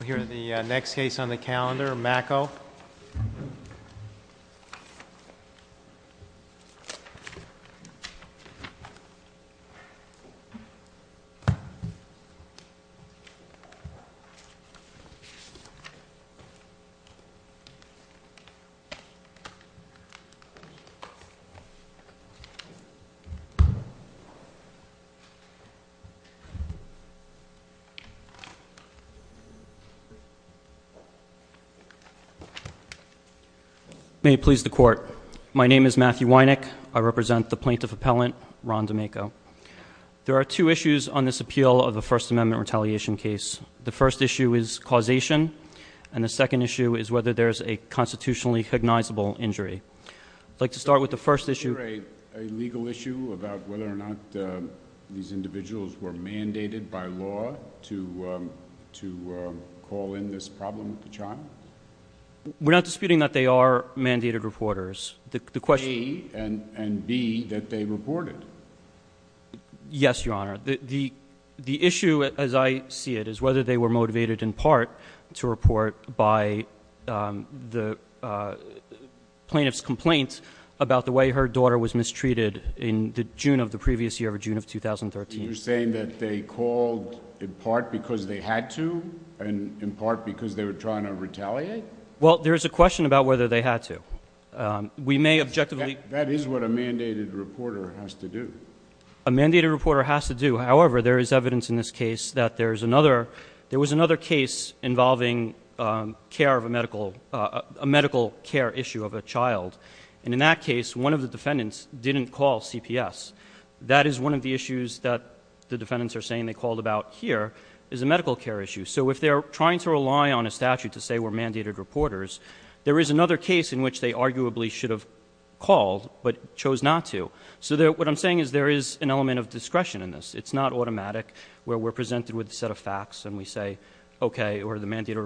We'll hear the next case on the calendar, Macco. May it please the court, my name is Matthew Wynick, I represent the plaintiff appellant, Ron D'Amico. There are two issues on this appeal of a First Amendment retaliation case. The first issue is causation, and the second issue is whether there's a constitutionally cognizable injury. I'd like to start with the first issue. Is there a legal issue about whether or not these individuals were mandated by law to call in this problem with the child? We're not disputing that they are mandated reporters. The question- A, and B, that they reported. Yes, Your Honor. The issue, as I see it, is whether they were motivated in part to report by the plaintiff's complaint about the way her daughter was mistreated in the June of the previous year, June of 2013. You're saying that they called in part because they had to, and in part because they were trying to retaliate? Well, there is a question about whether they had to. We may objectively- That is what a mandated reporter has to do. A mandated reporter has to do. However, there is evidence in this case that there was another case involving a medical care issue of a child, and in that case, one of the defendants didn't call CPS. That is one of the issues that the defendants are saying they called about here, is a medical care issue. So if they're trying to rely on a statute to say we're mandated reporters, there is another case in which they arguably should have called but chose not to. So what I'm saying is there is an element of discretion in this. It's not automatic where we're presented with a set of facts and we say, okay, or the mandated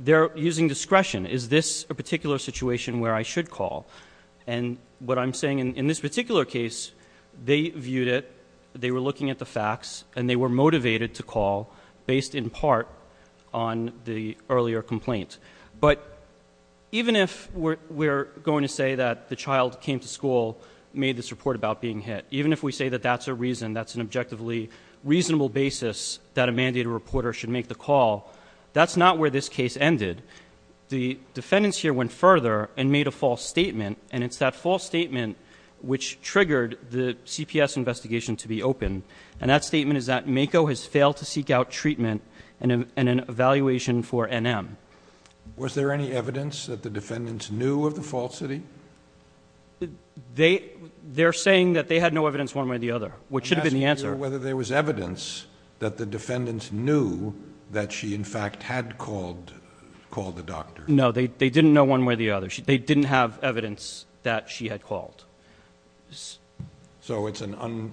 They're using discretion. Is this a particular situation where I should call? And what I'm saying in this particular case, they viewed it, they were looking at the facts, and they were motivated to call based in part on the earlier complaint. But even if we're going to say that the child came to school, made this report about being hit, even if we say that that's a reason, that's an objectively reasonable basis that a mandated reporter should make the call, that's not where this case ended. The defendants here went further and made a false statement, and it's that false statement which triggered the CPS investigation to be open. And that statement is that MAKO has failed to seek out treatment and an evaluation for NM. Was there any evidence that the defendants knew of the falsity? They're saying that they had no evidence one way or the other, which should have been the answer. I'm not sure whether there was evidence that the defendants knew that she, in fact, had called the doctor. No. They didn't know one way or the other. They didn't have evidence that she had called. So it's an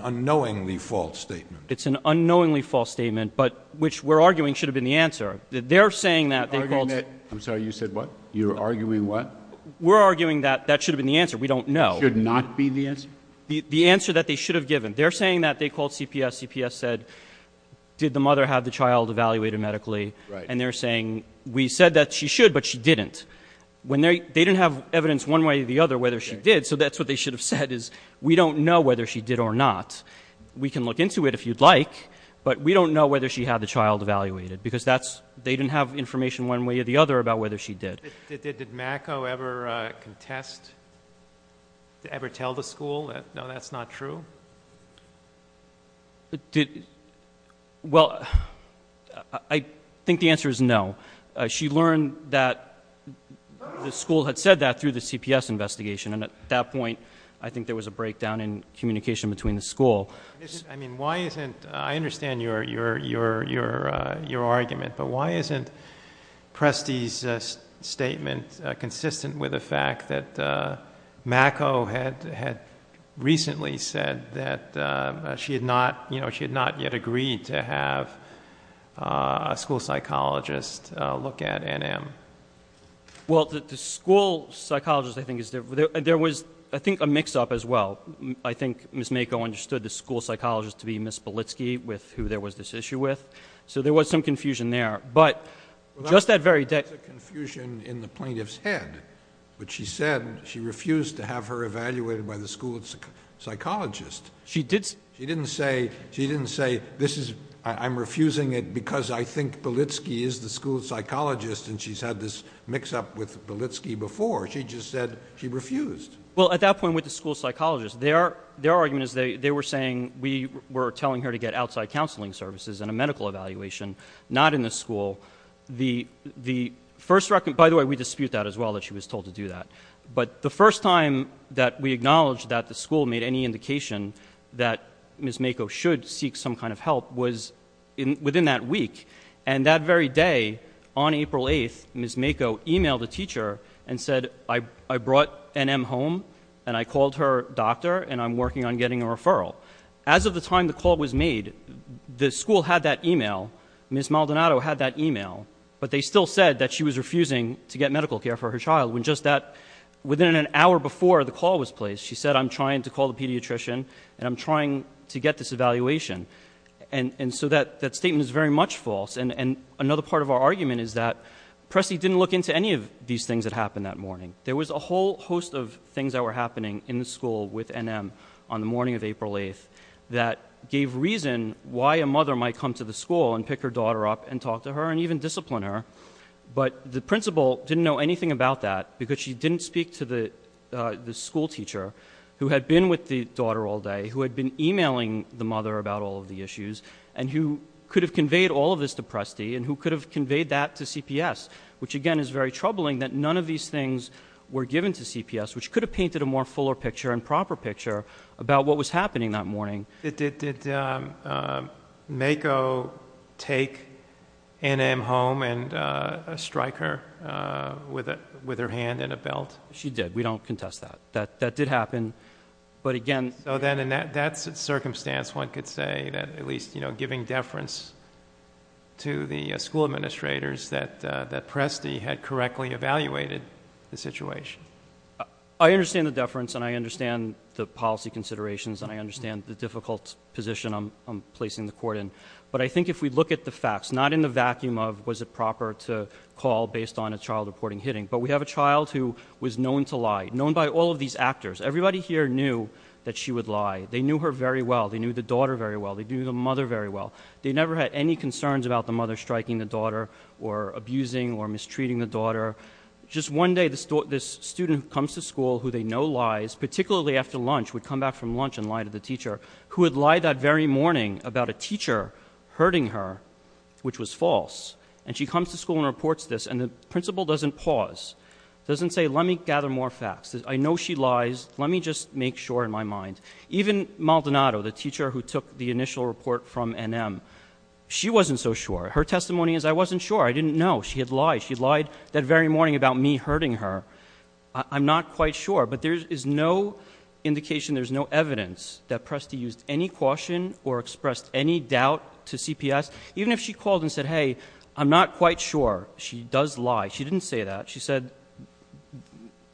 unknowingly false statement. It's an unknowingly false statement, but which we're arguing should have been the answer. They're saying that. I'm sorry. You said what? You're arguing what? We're arguing that that should have been the answer. We don't know. Should not be the answer? The answer that they should have given. They're saying that. They called CPS. CPS said, did the mother have the child evaluated medically? And they're saying, we said that she should, but she didn't. They didn't have evidence one way or the other whether she did. So that's what they should have said is, we don't know whether she did or not. We can look into it if you'd like, but we don't know whether she had the child evaluated because they didn't have information one way or the other about whether she did. Did MAKO ever contest, ever tell the school that, no, that's not true? Did, well, I think the answer is no. She learned that the school had said that through the CPS investigation, and at that point I think there was a breakdown in communication between the school. I mean, why isn't, I understand your argument, but why isn't Presti's statement consistent with the fact that MAKO had recently said that she had not, you know, she had not yet agreed to have a school psychologist look at Ann M.? Well, the school psychologist, I think, there was, I think, a mix-up as well. I think Ms. MAKO understood the school psychologist to be Ms. Belitsky with who there was this issue with. So there was some confusion there. But just that very day— Well, that was a confusion in the plaintiff's head, which she said she refused to have her evaluated by the school psychologist. She didn't say, she didn't say, this is, I'm refusing it because I think Belitsky is the school psychologist and she's had this mix-up with Belitsky before. She just said she refused. Well, at that point with the school psychologist, their argument is they were saying we were the first—by the way, we dispute that as well, that she was told to do that. But the first time that we acknowledged that the school made any indication that Ms. MAKO should seek some kind of help was within that week. And that very day, on April 8th, Ms. MAKO emailed the teacher and said, I brought Ann M.? home and I called her doctor and I'm working on getting a referral. As of the time the call was made, the school had that email, Ms. MALDONADO had that email, but they still said that she was refusing to get medical care for her child when just that—within an hour before the call was placed, she said, I'm trying to call the pediatrician and I'm trying to get this evaluation. And so that statement is very much false. And another part of our argument is that Pressy didn't look into any of these things that happened that morning. There was a whole host of things that were happening in the school with Ann M.? on the morning of April 8th that gave reason why a mother might come to the school and pick her daughter up and talk to her and even discipline her. But the principal didn't know anything about that because she didn't speak to the school teacher who had been with the daughter all day, who had been emailing the mother about all of the issues, and who could have conveyed all of this to Pressy and who could have conveyed that to CPS, which again is very troubling that none of these things were given to CPS, which could have painted a more fuller picture and proper picture about what was happening that morning. Did MAKO take Ann M.? home and strike her with her hand and a belt? She did. We don't contest that. That did happen. But again— So then in that circumstance, one could say that at least, you know, giving deference to the school administrators that Pressy had correctly evaluated the situation. I understand the deference and I understand the policy considerations and I understand the difficult position I'm placing the court in. But I think if we look at the facts, not in the vacuum of was it proper to call based on a child reporting hitting, but we have a child who was known to lie, known by all of these actors. Everybody here knew that she would lie. They knew her very well. They knew the daughter very well. They knew the mother very well. the daughter. Just one day, this student comes to school who they know lies, particularly after lunch, would come back from lunch and lie to the teacher, who had lied that very morning about a teacher hurting her, which was false. And she comes to school and reports this, and the principal doesn't pause, doesn't say, let me gather more facts. I know she lies. Let me just make sure in my mind. Even Maldonado, the teacher who took the initial report from Ann M., she wasn't so sure. Her testimony is, I wasn't sure. I didn't know. She had lied. She lied that very morning about me hurting her. I'm not quite sure. But there is no indication, there's no evidence that Presti used any caution or expressed any doubt to CPS, even if she called and said, hey, I'm not quite sure. She does lie. She didn't say that. She said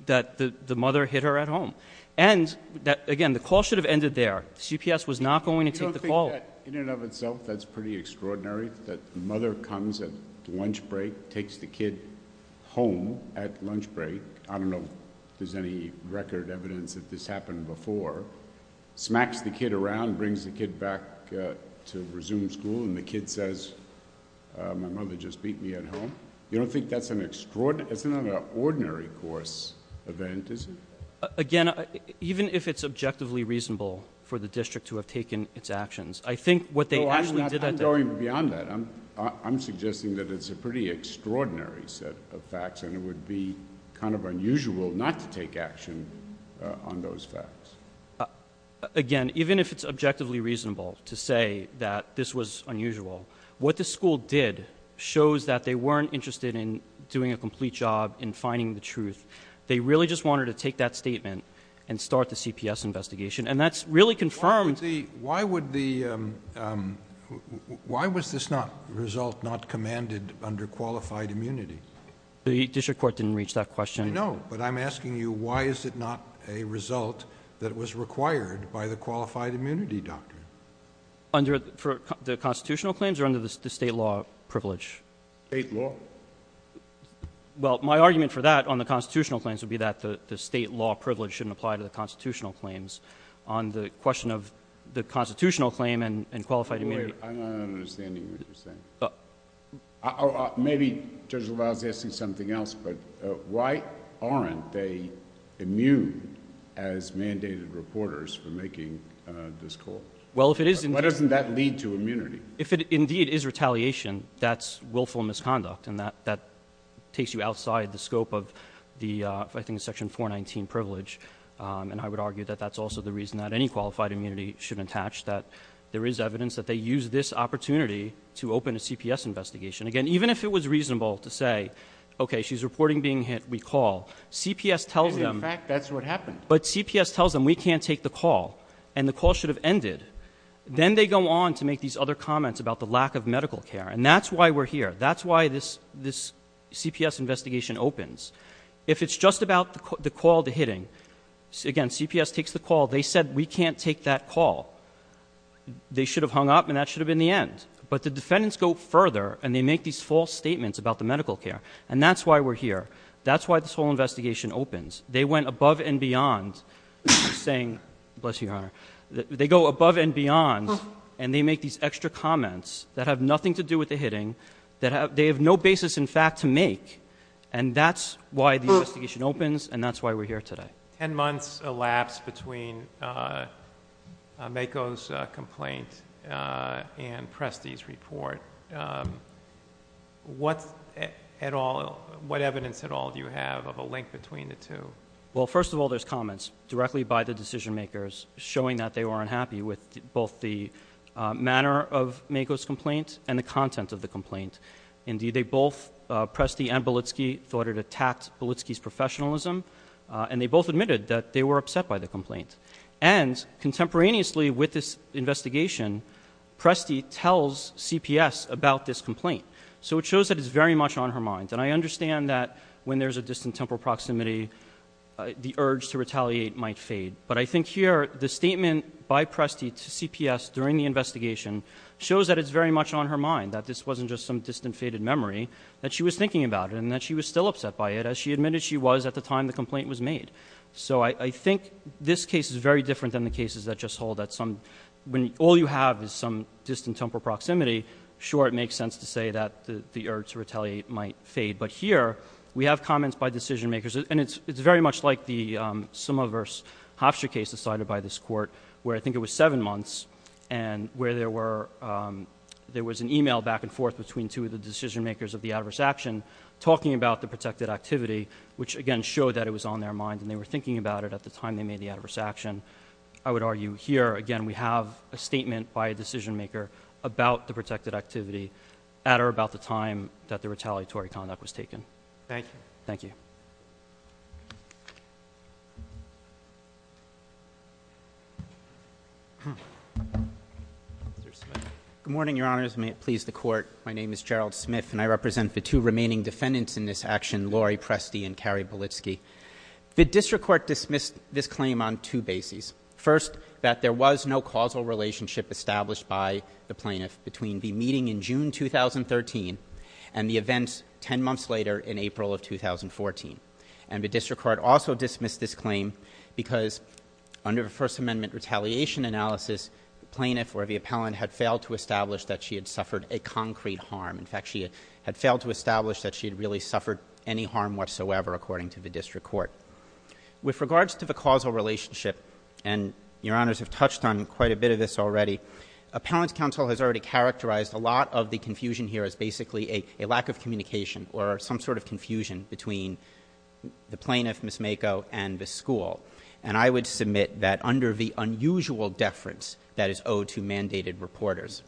that the mother hit her at home. And again, the call should have ended there. CPS was not going to take the call. You don't think that, in and of itself, that's pretty extraordinary, that the mother comes at lunch break, takes the kid home at lunch break... I don't know if there's any record evidence that this happened before... smacks the kid around, brings the kid back to resume school, and the kid says, my mother just beat me at home? You don't think that's an extraordinary... that's not an ordinary course event, is it? Again, even if it's objectively reasonable for the district to have taken its actions, I think what they actually did at that... No, I'm going beyond that. I'm suggesting that it's a pretty extraordinary set of facts, and it would be kind of unusual not to take action on those facts. Again, even if it's objectively reasonable to say that this was unusual, what the school did shows that they weren't interested in doing a complete job in finding the truth. They really just wanted to take that statement and start the CPS investigation. And that's really confirmed... Why is that result not commanded under qualified immunity? The district court didn't reach that question. I know, but I'm asking you, why is it not a result that was required by the qualified immunity doctrine? Under the constitutional claims or under the state law privilege? State law. Well, my argument for that on the constitutional claims would be that the state law privilege shouldn't apply to the constitutional claims. On the question of the constitutional claim and qualified immunity... Wait, wait, wait. I'm not understanding what you're saying. Maybe Judge LaValle is asking something else, but why aren't they immune as mandated reporters for making this call? Well, if it is... Why doesn't that lead to immunity? If it indeed is retaliation, that's willful misconduct, and that takes you outside the scope of the, I think, Section 419 privilege. And I would argue that that's also the reason that any qualified immunity should attach, that there is evidence that they use this opportunity to open a CPS investigation. Again, even if it was reasonable to say, okay, she's reporting being hit, we call, CPS tells them... Because, in fact, that's what happened. But CPS tells them, we can't take the call, and the call should have ended. Then they go on to make these other comments about the lack of medical care. And that's why we're here. That's why this CPS investigation opens. If it's just about the call to hitting, again, CPS takes the call. They said, we can't take that call. They should have hung up, and that should have been the end. But the defendants go further, and they make these false statements about the medical care. And that's why we're here. That's why this whole investigation opens. They went above and beyond saying... Bless you, Your Honor. They go above and beyond, and they make these extra comments that have nothing to do with the hitting, that they have no basis, in fact, to make. And that's why the investigation opens, and that's why we're here today. Ten months elapsed between Mako's complaint and Presti's report. What evidence at all do you have of a link between the two? Well, first of all, there's comments directly by the decision-makers showing that they were unhappy with both the manner of Mako's complaint and the content of the complaint. Indeed, both Presti and Bolitski thought it attacked Bolitski's professionalism, and they both admitted that they were upset by the complaint. And contemporaneously with this investigation, Presti tells CPS about this complaint. So it shows that it's very much on her mind. And I understand that when there's a distant temporal proximity, the urge to retaliate might fade. But I think here, the statement by Presti to CPS during the investigation shows that it's very much on her mind, that this wasn't just some distant faded memory, that she was thinking about it, and that she was still upset by it, as she admitted she was at the time the complaint was made. So I think this case is very different than the cases that just hold that some, when all you have is some distant temporal proximity. Sure, it makes sense to say that the urge to retaliate might fade. But here, we have comments by decision-makers. And it's very much like the Summa versus Hofstra case decided by this court, where I think it was seven months. And where there was an email back and forth between two of the decision-makers of the adverse action, talking about the protected activity, which again showed that it was on their mind and they were thinking about it at the time they made the adverse action. I would argue here, again, we have a statement by a decision-maker about the protected activity, at or about the time that the retaliatory conduct was taken. Thank you. Thank you. May it please the court. My name is Gerald Smith, and I represent the two remaining defendants in this action, Lori Presti and Carrie Bolitski. The district court dismissed this claim on two bases. First, that there was no causal relationship established by the plaintiff between the meeting in June 2013 and the events ten months later in April of 2014. And the district court also dismissed this claim because under the First Amendment retaliation analysis, plaintiff or the appellant had failed to establish that she had suffered a concrete harm. In fact, she had failed to establish that she had really suffered any harm whatsoever, according to the district court. With regards to the causal relationship, and your honors have touched on quite a bit of this already. Appellant's counsel has already characterized a lot of the confusion here as basically a lack of communication or some sort of confusion between the plaintiff, Ms. Mako, and the school. And I would submit that under the unusual deference that is owed to mandated reporters,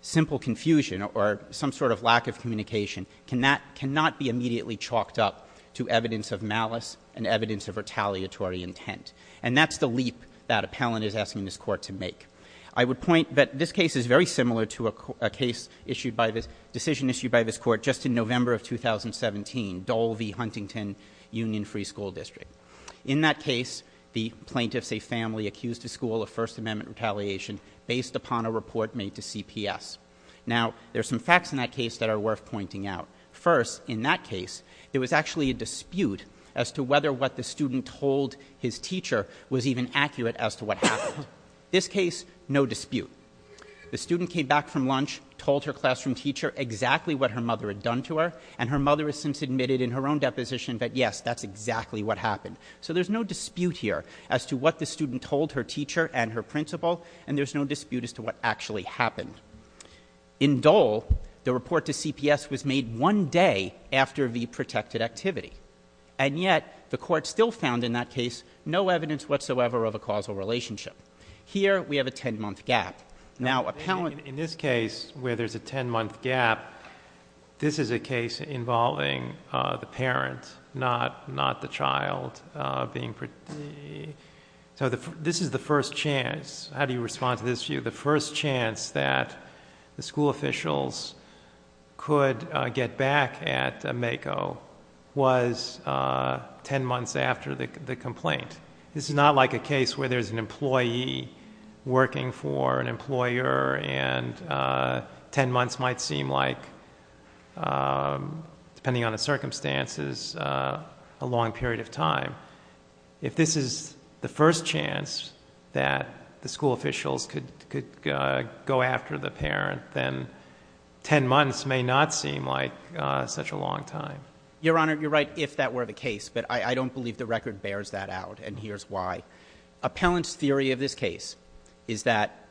simple confusion or some sort of lack of communication cannot be immediately chalked up to evidence of malice and evidence of retaliatory intent, and that's the leap that appellant is asking this court to make. I would point that this case is very similar to a decision issued by this court just in November of 2017, Dole v. Huntington Union Free School District. In that case, the plaintiff's family accused the school of First Amendment retaliation based upon a report made to CPS. Now, there's some facts in that case that are worth pointing out. First, in that case, there was actually a dispute as to whether what the student told his teacher was even accurate as to what happened. This case, no dispute. The student came back from lunch, told her classroom teacher exactly what her mother had done to her, and her mother has since admitted in her own deposition that yes, that's exactly what happened. So there's no dispute here as to what the student told her teacher and her principal, and there's no dispute as to what actually happened. In Dole, the report to CPS was made one day after the protected activity. And yet, the court still found in that case no evidence whatsoever of a causal relationship. Here, we have a ten month gap. Now, appellant- In this case, where there's a ten month gap, this is a case involving the parent, not the child being, so this is the first chance. How do you respond to this view? The first chance that the school officials could get back at MAKO was ten months after the complaint. This is not like a case where there's an employee working for an employer and ten months might seem like, depending on the circumstances, a long period of time. If this is the first chance that the school officials could go after the parent, then ten months may not seem like such a long time. Your Honor, you're right if that were the case, but I don't believe the record bears that out, and here's why. Appellant's theory of this case is that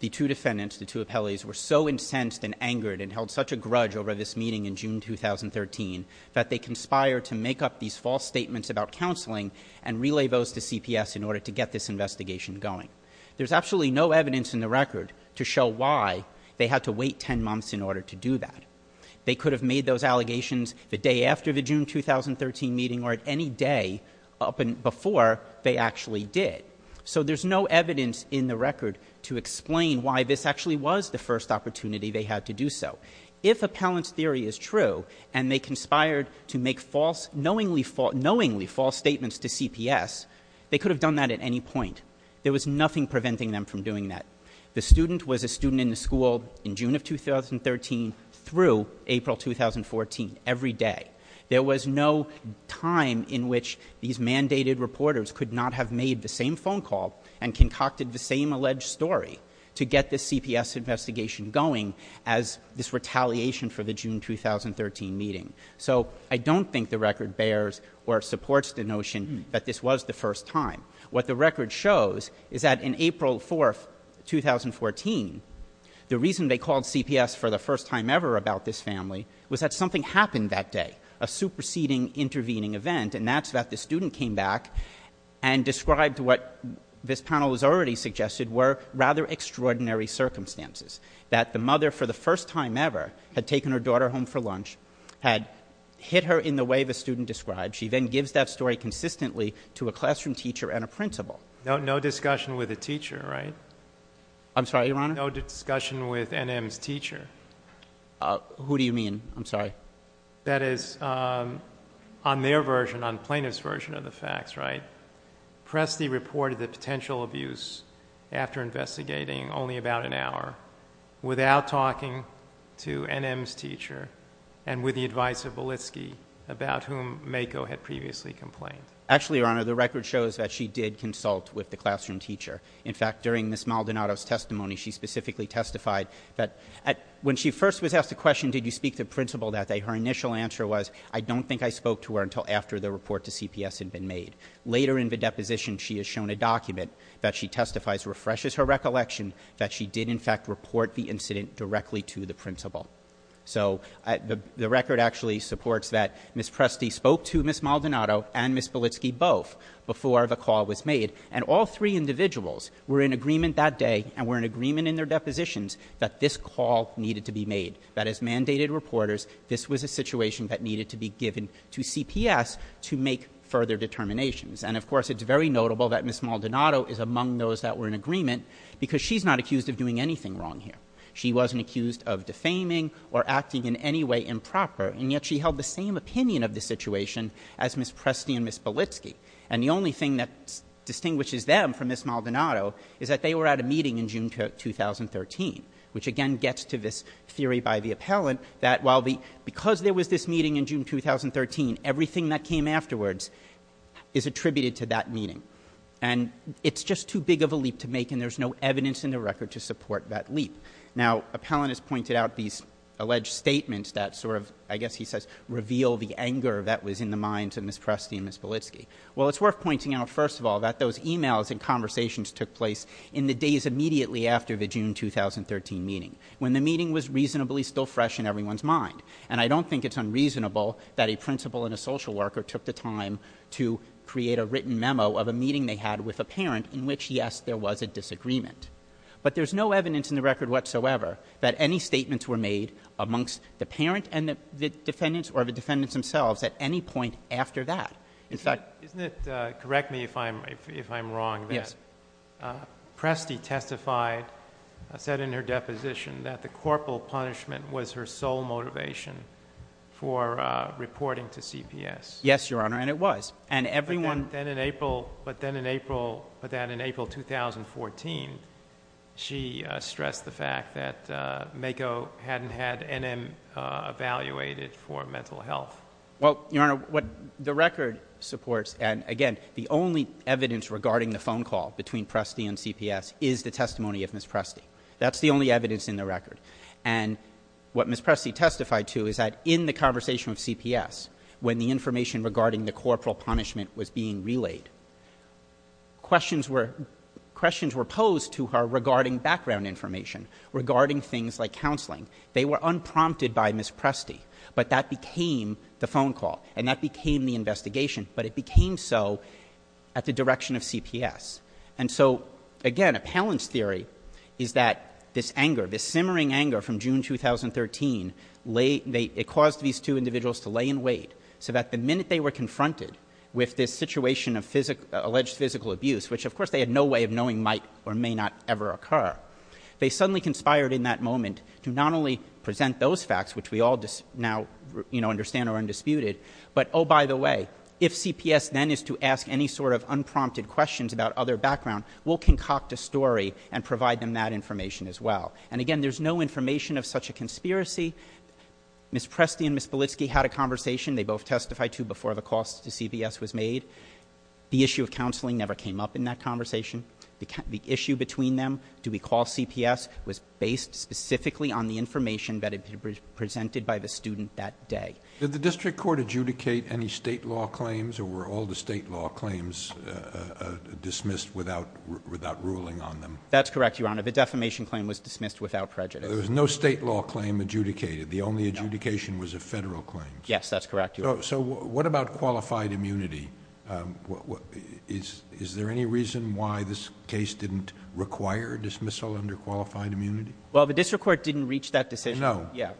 the two defendants, the two appellees, were so incensed and angered and held such a grudge over this meeting in June 2013 that they conspired to make up these false statements about counseling and relay those to CPS in order to get this investigation going. There's absolutely no evidence in the record to show why they had to wait ten months in order to do that. They could have made those allegations the day after the June 2013 meeting or at any day before they actually did. So there's no evidence in the record to explain why this actually was the first opportunity they had to do so. If Appellant's theory is true and they conspired to make knowingly false statements to CPS, they could have done that at any point, there was nothing preventing them from doing that. The student was a student in the school in June of 2013 through April 2014, every day. There was no time in which these mandated reporters could not have made the same phone call and concocted the same alleged story to get the CPS investigation going as this retaliation for the June 2013 meeting. So I don't think the record bears or supports the notion that this was the first time. What the record shows is that in April 4th, 2014, the reason they called CPS for the first time ever about this family was that something happened that day, a superseding intervening event. And that's that the student came back and described what this panel has already suggested were rather extraordinary circumstances. That the mother, for the first time ever, had taken her daughter home for lunch, had hit her in the way the student described. She then gives that story consistently to a classroom teacher and a principal. No discussion with a teacher, right? I'm sorry, Your Honor? No discussion with NM's teacher. Who do you mean? I'm sorry. That is on their version, on plaintiff's version of the facts, right? Presti reported the potential abuse after investigating only about an hour without talking to NM's teacher and with the advice of Belitsky about whom Mako had previously complained. Actually, Your Honor, the record shows that she did consult with the classroom teacher. In fact, during Ms. Maldonado's testimony, she specifically testified that when she first was asked the question, did you speak to principal that day, her initial answer was, I don't think I spoke to her until after the report to CPS had been made. Later in the deposition, she has shown a document that she testifies refreshes her recollection that she did in fact report the incident directly to the principal. So the record actually supports that Ms. Presti spoke to Ms. Maldonado and Ms. Belitsky both before the call was made, and all three individuals were in agreement that day and were in agreement in their depositions that this call needed to be made. That as mandated reporters, this was a situation that needed to be given to CPS to make further determinations. And of course, it's very notable that Ms. Maldonado is among those that were in agreement because she's not accused of doing anything wrong here. She wasn't accused of defaming or acting in any way improper, and yet she held the same opinion of the situation as Ms. Presti and Ms. Belitsky. And the only thing that distinguishes them from Ms. Maldonado is that they were at a meeting in June 2013, which again gets to this theory by the appellant that because there was this meeting in June 2013, everything that came afterwards is attributed to that meeting. And it's just too big of a leap to make, and there's no evidence in the record to support that leap. Now, appellant has pointed out these alleged statements that sort of, I guess he says, reveal the anger that was in the minds of Ms. Presti and Ms. Belitsky. Well, it's worth pointing out, first of all, that those emails and conversations took place in the days immediately after the June 2013 meeting. When the meeting was reasonably still fresh in everyone's mind. And I don't think it's unreasonable that a principal and a social worker took the time to create a written memo of a meeting they had with a parent, in which, yes, there was a disagreement. But there's no evidence in the record whatsoever that any statements were made amongst the parent and the defendants, or the defendants themselves, at any point after that. In fact- Isn't it, correct me if I'm wrong. Yes. Presti testified, said in her deposition, that the corporal punishment was her sole motivation for reporting to CPS. Yes, Your Honor, and it was. And everyone- But then in April, but then in April, but then in April 2014, she stressed the fact that MAKO hadn't had NM evaluated for mental health. Well, Your Honor, what the record supports, and again, the only evidence regarding the phone call between Presti and CPS is the testimony of Ms. Presti. That's the only evidence in the record. And what Ms. Presti testified to is that in the conversation with CPS, when the information regarding the corporal punishment was being relayed, questions were posed to her regarding background information, regarding things like counseling. They were unprompted by Ms. Presti, but that became the phone call, and that became the investigation. But it became so at the direction of CPS. And so, again, Appellant's theory is that this anger, this simmering anger from June 2013, it caused these two individuals to lay in wait. So that the minute they were confronted with this situation of alleged physical abuse, which of course they had no way of knowing might or may not ever occur, they suddenly conspired in that moment to not only present those facts, which we all now understand are undisputed. But by the way, if CPS then is to ask any sort of unprompted questions about other background, we'll concoct a story and provide them that information as well. And again, there's no information of such a conspiracy. Ms. Presti and Ms. Belitsky had a conversation, they both testified to before the call to CPS was made. The issue of counseling never came up in that conversation. The issue between them, do we call CPS, was based specifically on the information that had been presented by the student that day. Did the district court adjudicate any state law claims, or were all the state law claims dismissed without ruling on them? That's correct, Your Honor. The defamation claim was dismissed without prejudice. There was no state law claim adjudicated. The only adjudication was a federal claim. Yes, that's correct, Your Honor. So what about qualified immunity? Is there any reason why this case didn't require dismissal under qualified immunity? Well, the district court didn't reach that decision. No. Yeah.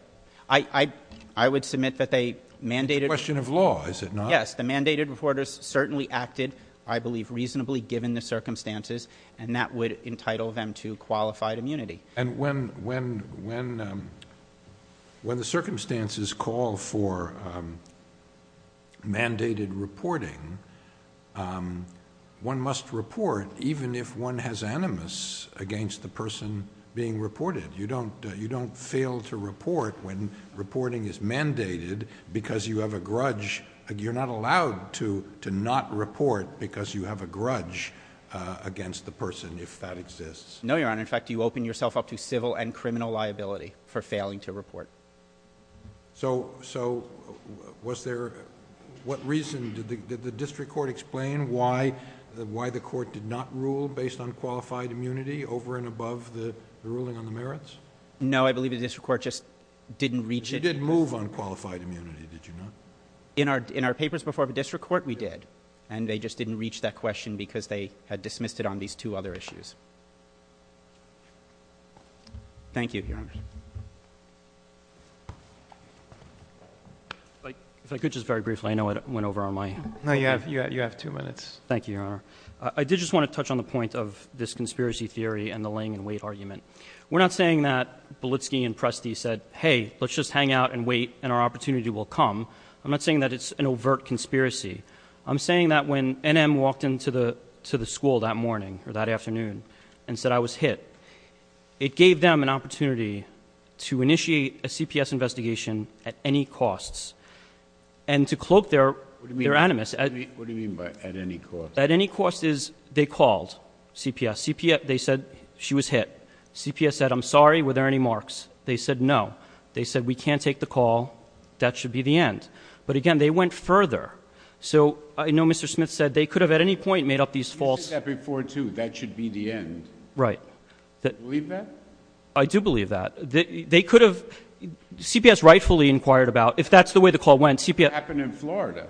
I would submit that they mandated- It's a question of law, is it not? Yes, the mandated reporters certainly acted, I believe, reasonably given the circumstances. And that would entitle them to qualified immunity. And when the circumstances call for reporting, one must report even if one has animus against the person being reported. You don't fail to report when reporting is mandated because you have a grudge. You're not allowed to not report because you have a grudge against the person, if that exists. No, Your Honor. In fact, you open yourself up to civil and criminal liability for failing to report. So, was there, what reason, did the district court explain why the court did not rule based on qualified immunity over and above the ruling on the merits? No, I believe the district court just didn't reach it. You did move on qualified immunity, did you not? In our papers before the district court, we did. And they just didn't reach that question because they had dismissed it on these two other issues. Thank you, Your Honor. If I could just very briefly, I know I went over on my- No, you have two minutes. Thank you, Your Honor. I did just want to touch on the point of this conspiracy theory and the laying in wait argument. We're not saying that Belitsky and Presti said, hey, let's just hang out and wait and our opportunity will come. I'm not saying that it's an overt conspiracy. I'm saying that when NM walked into the school that morning, or that afternoon, and said I was hit, it gave them an opportunity to initiate a CPS investigation at any costs. And to cloak their animus- What do you mean by at any cost? At any cost is they called CPS. They said she was hit. CPS said I'm sorry, were there any marks? They said no. They said we can't take the call, that should be the end. But again, they went further. So I know Mr. Smith said they could have at any point made up these false- You said that before too, that should be the end. Right. Do you believe that? I do believe that. They could have, CPS rightfully inquired about, if that's the way the call went, CPS- It happened in Florida.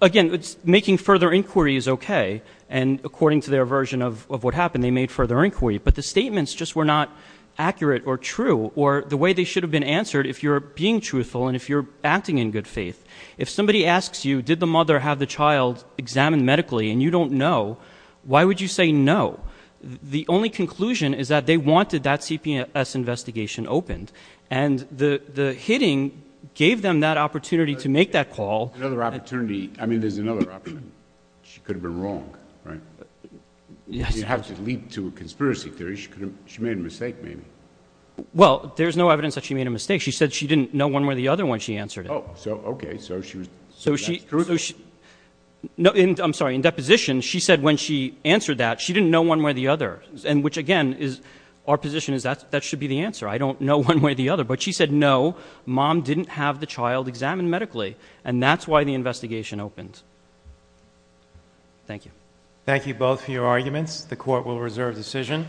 Again, making further inquiry is okay, and according to their version of what happened, they made further inquiry. But the statements just were not accurate or true, or the way they should have been answered if you're being truthful and if you're acting in good faith. If somebody asks you, did the mother have the child examined medically and you don't know, why would you say no? The only conclusion is that they wanted that CPS investigation opened. And the hitting gave them that opportunity to make that call. Another opportunity, I mean there's another option. She could have been wrong, right? Yes. You have to leap to a conspiracy theory, she made a mistake maybe. Well, there's no evidence that she made a mistake. She said she didn't know one way or the other when she answered it. Okay, so she was- So she, I'm sorry, in deposition, she said when she answered that, she didn't know one way or the other. And which again, our position is that should be the answer. I don't know one way or the other. But she said no, mom didn't have the child examined medically. And that's why the investigation opened. Thank you. Thank you both for your arguments. The court will reserve decision.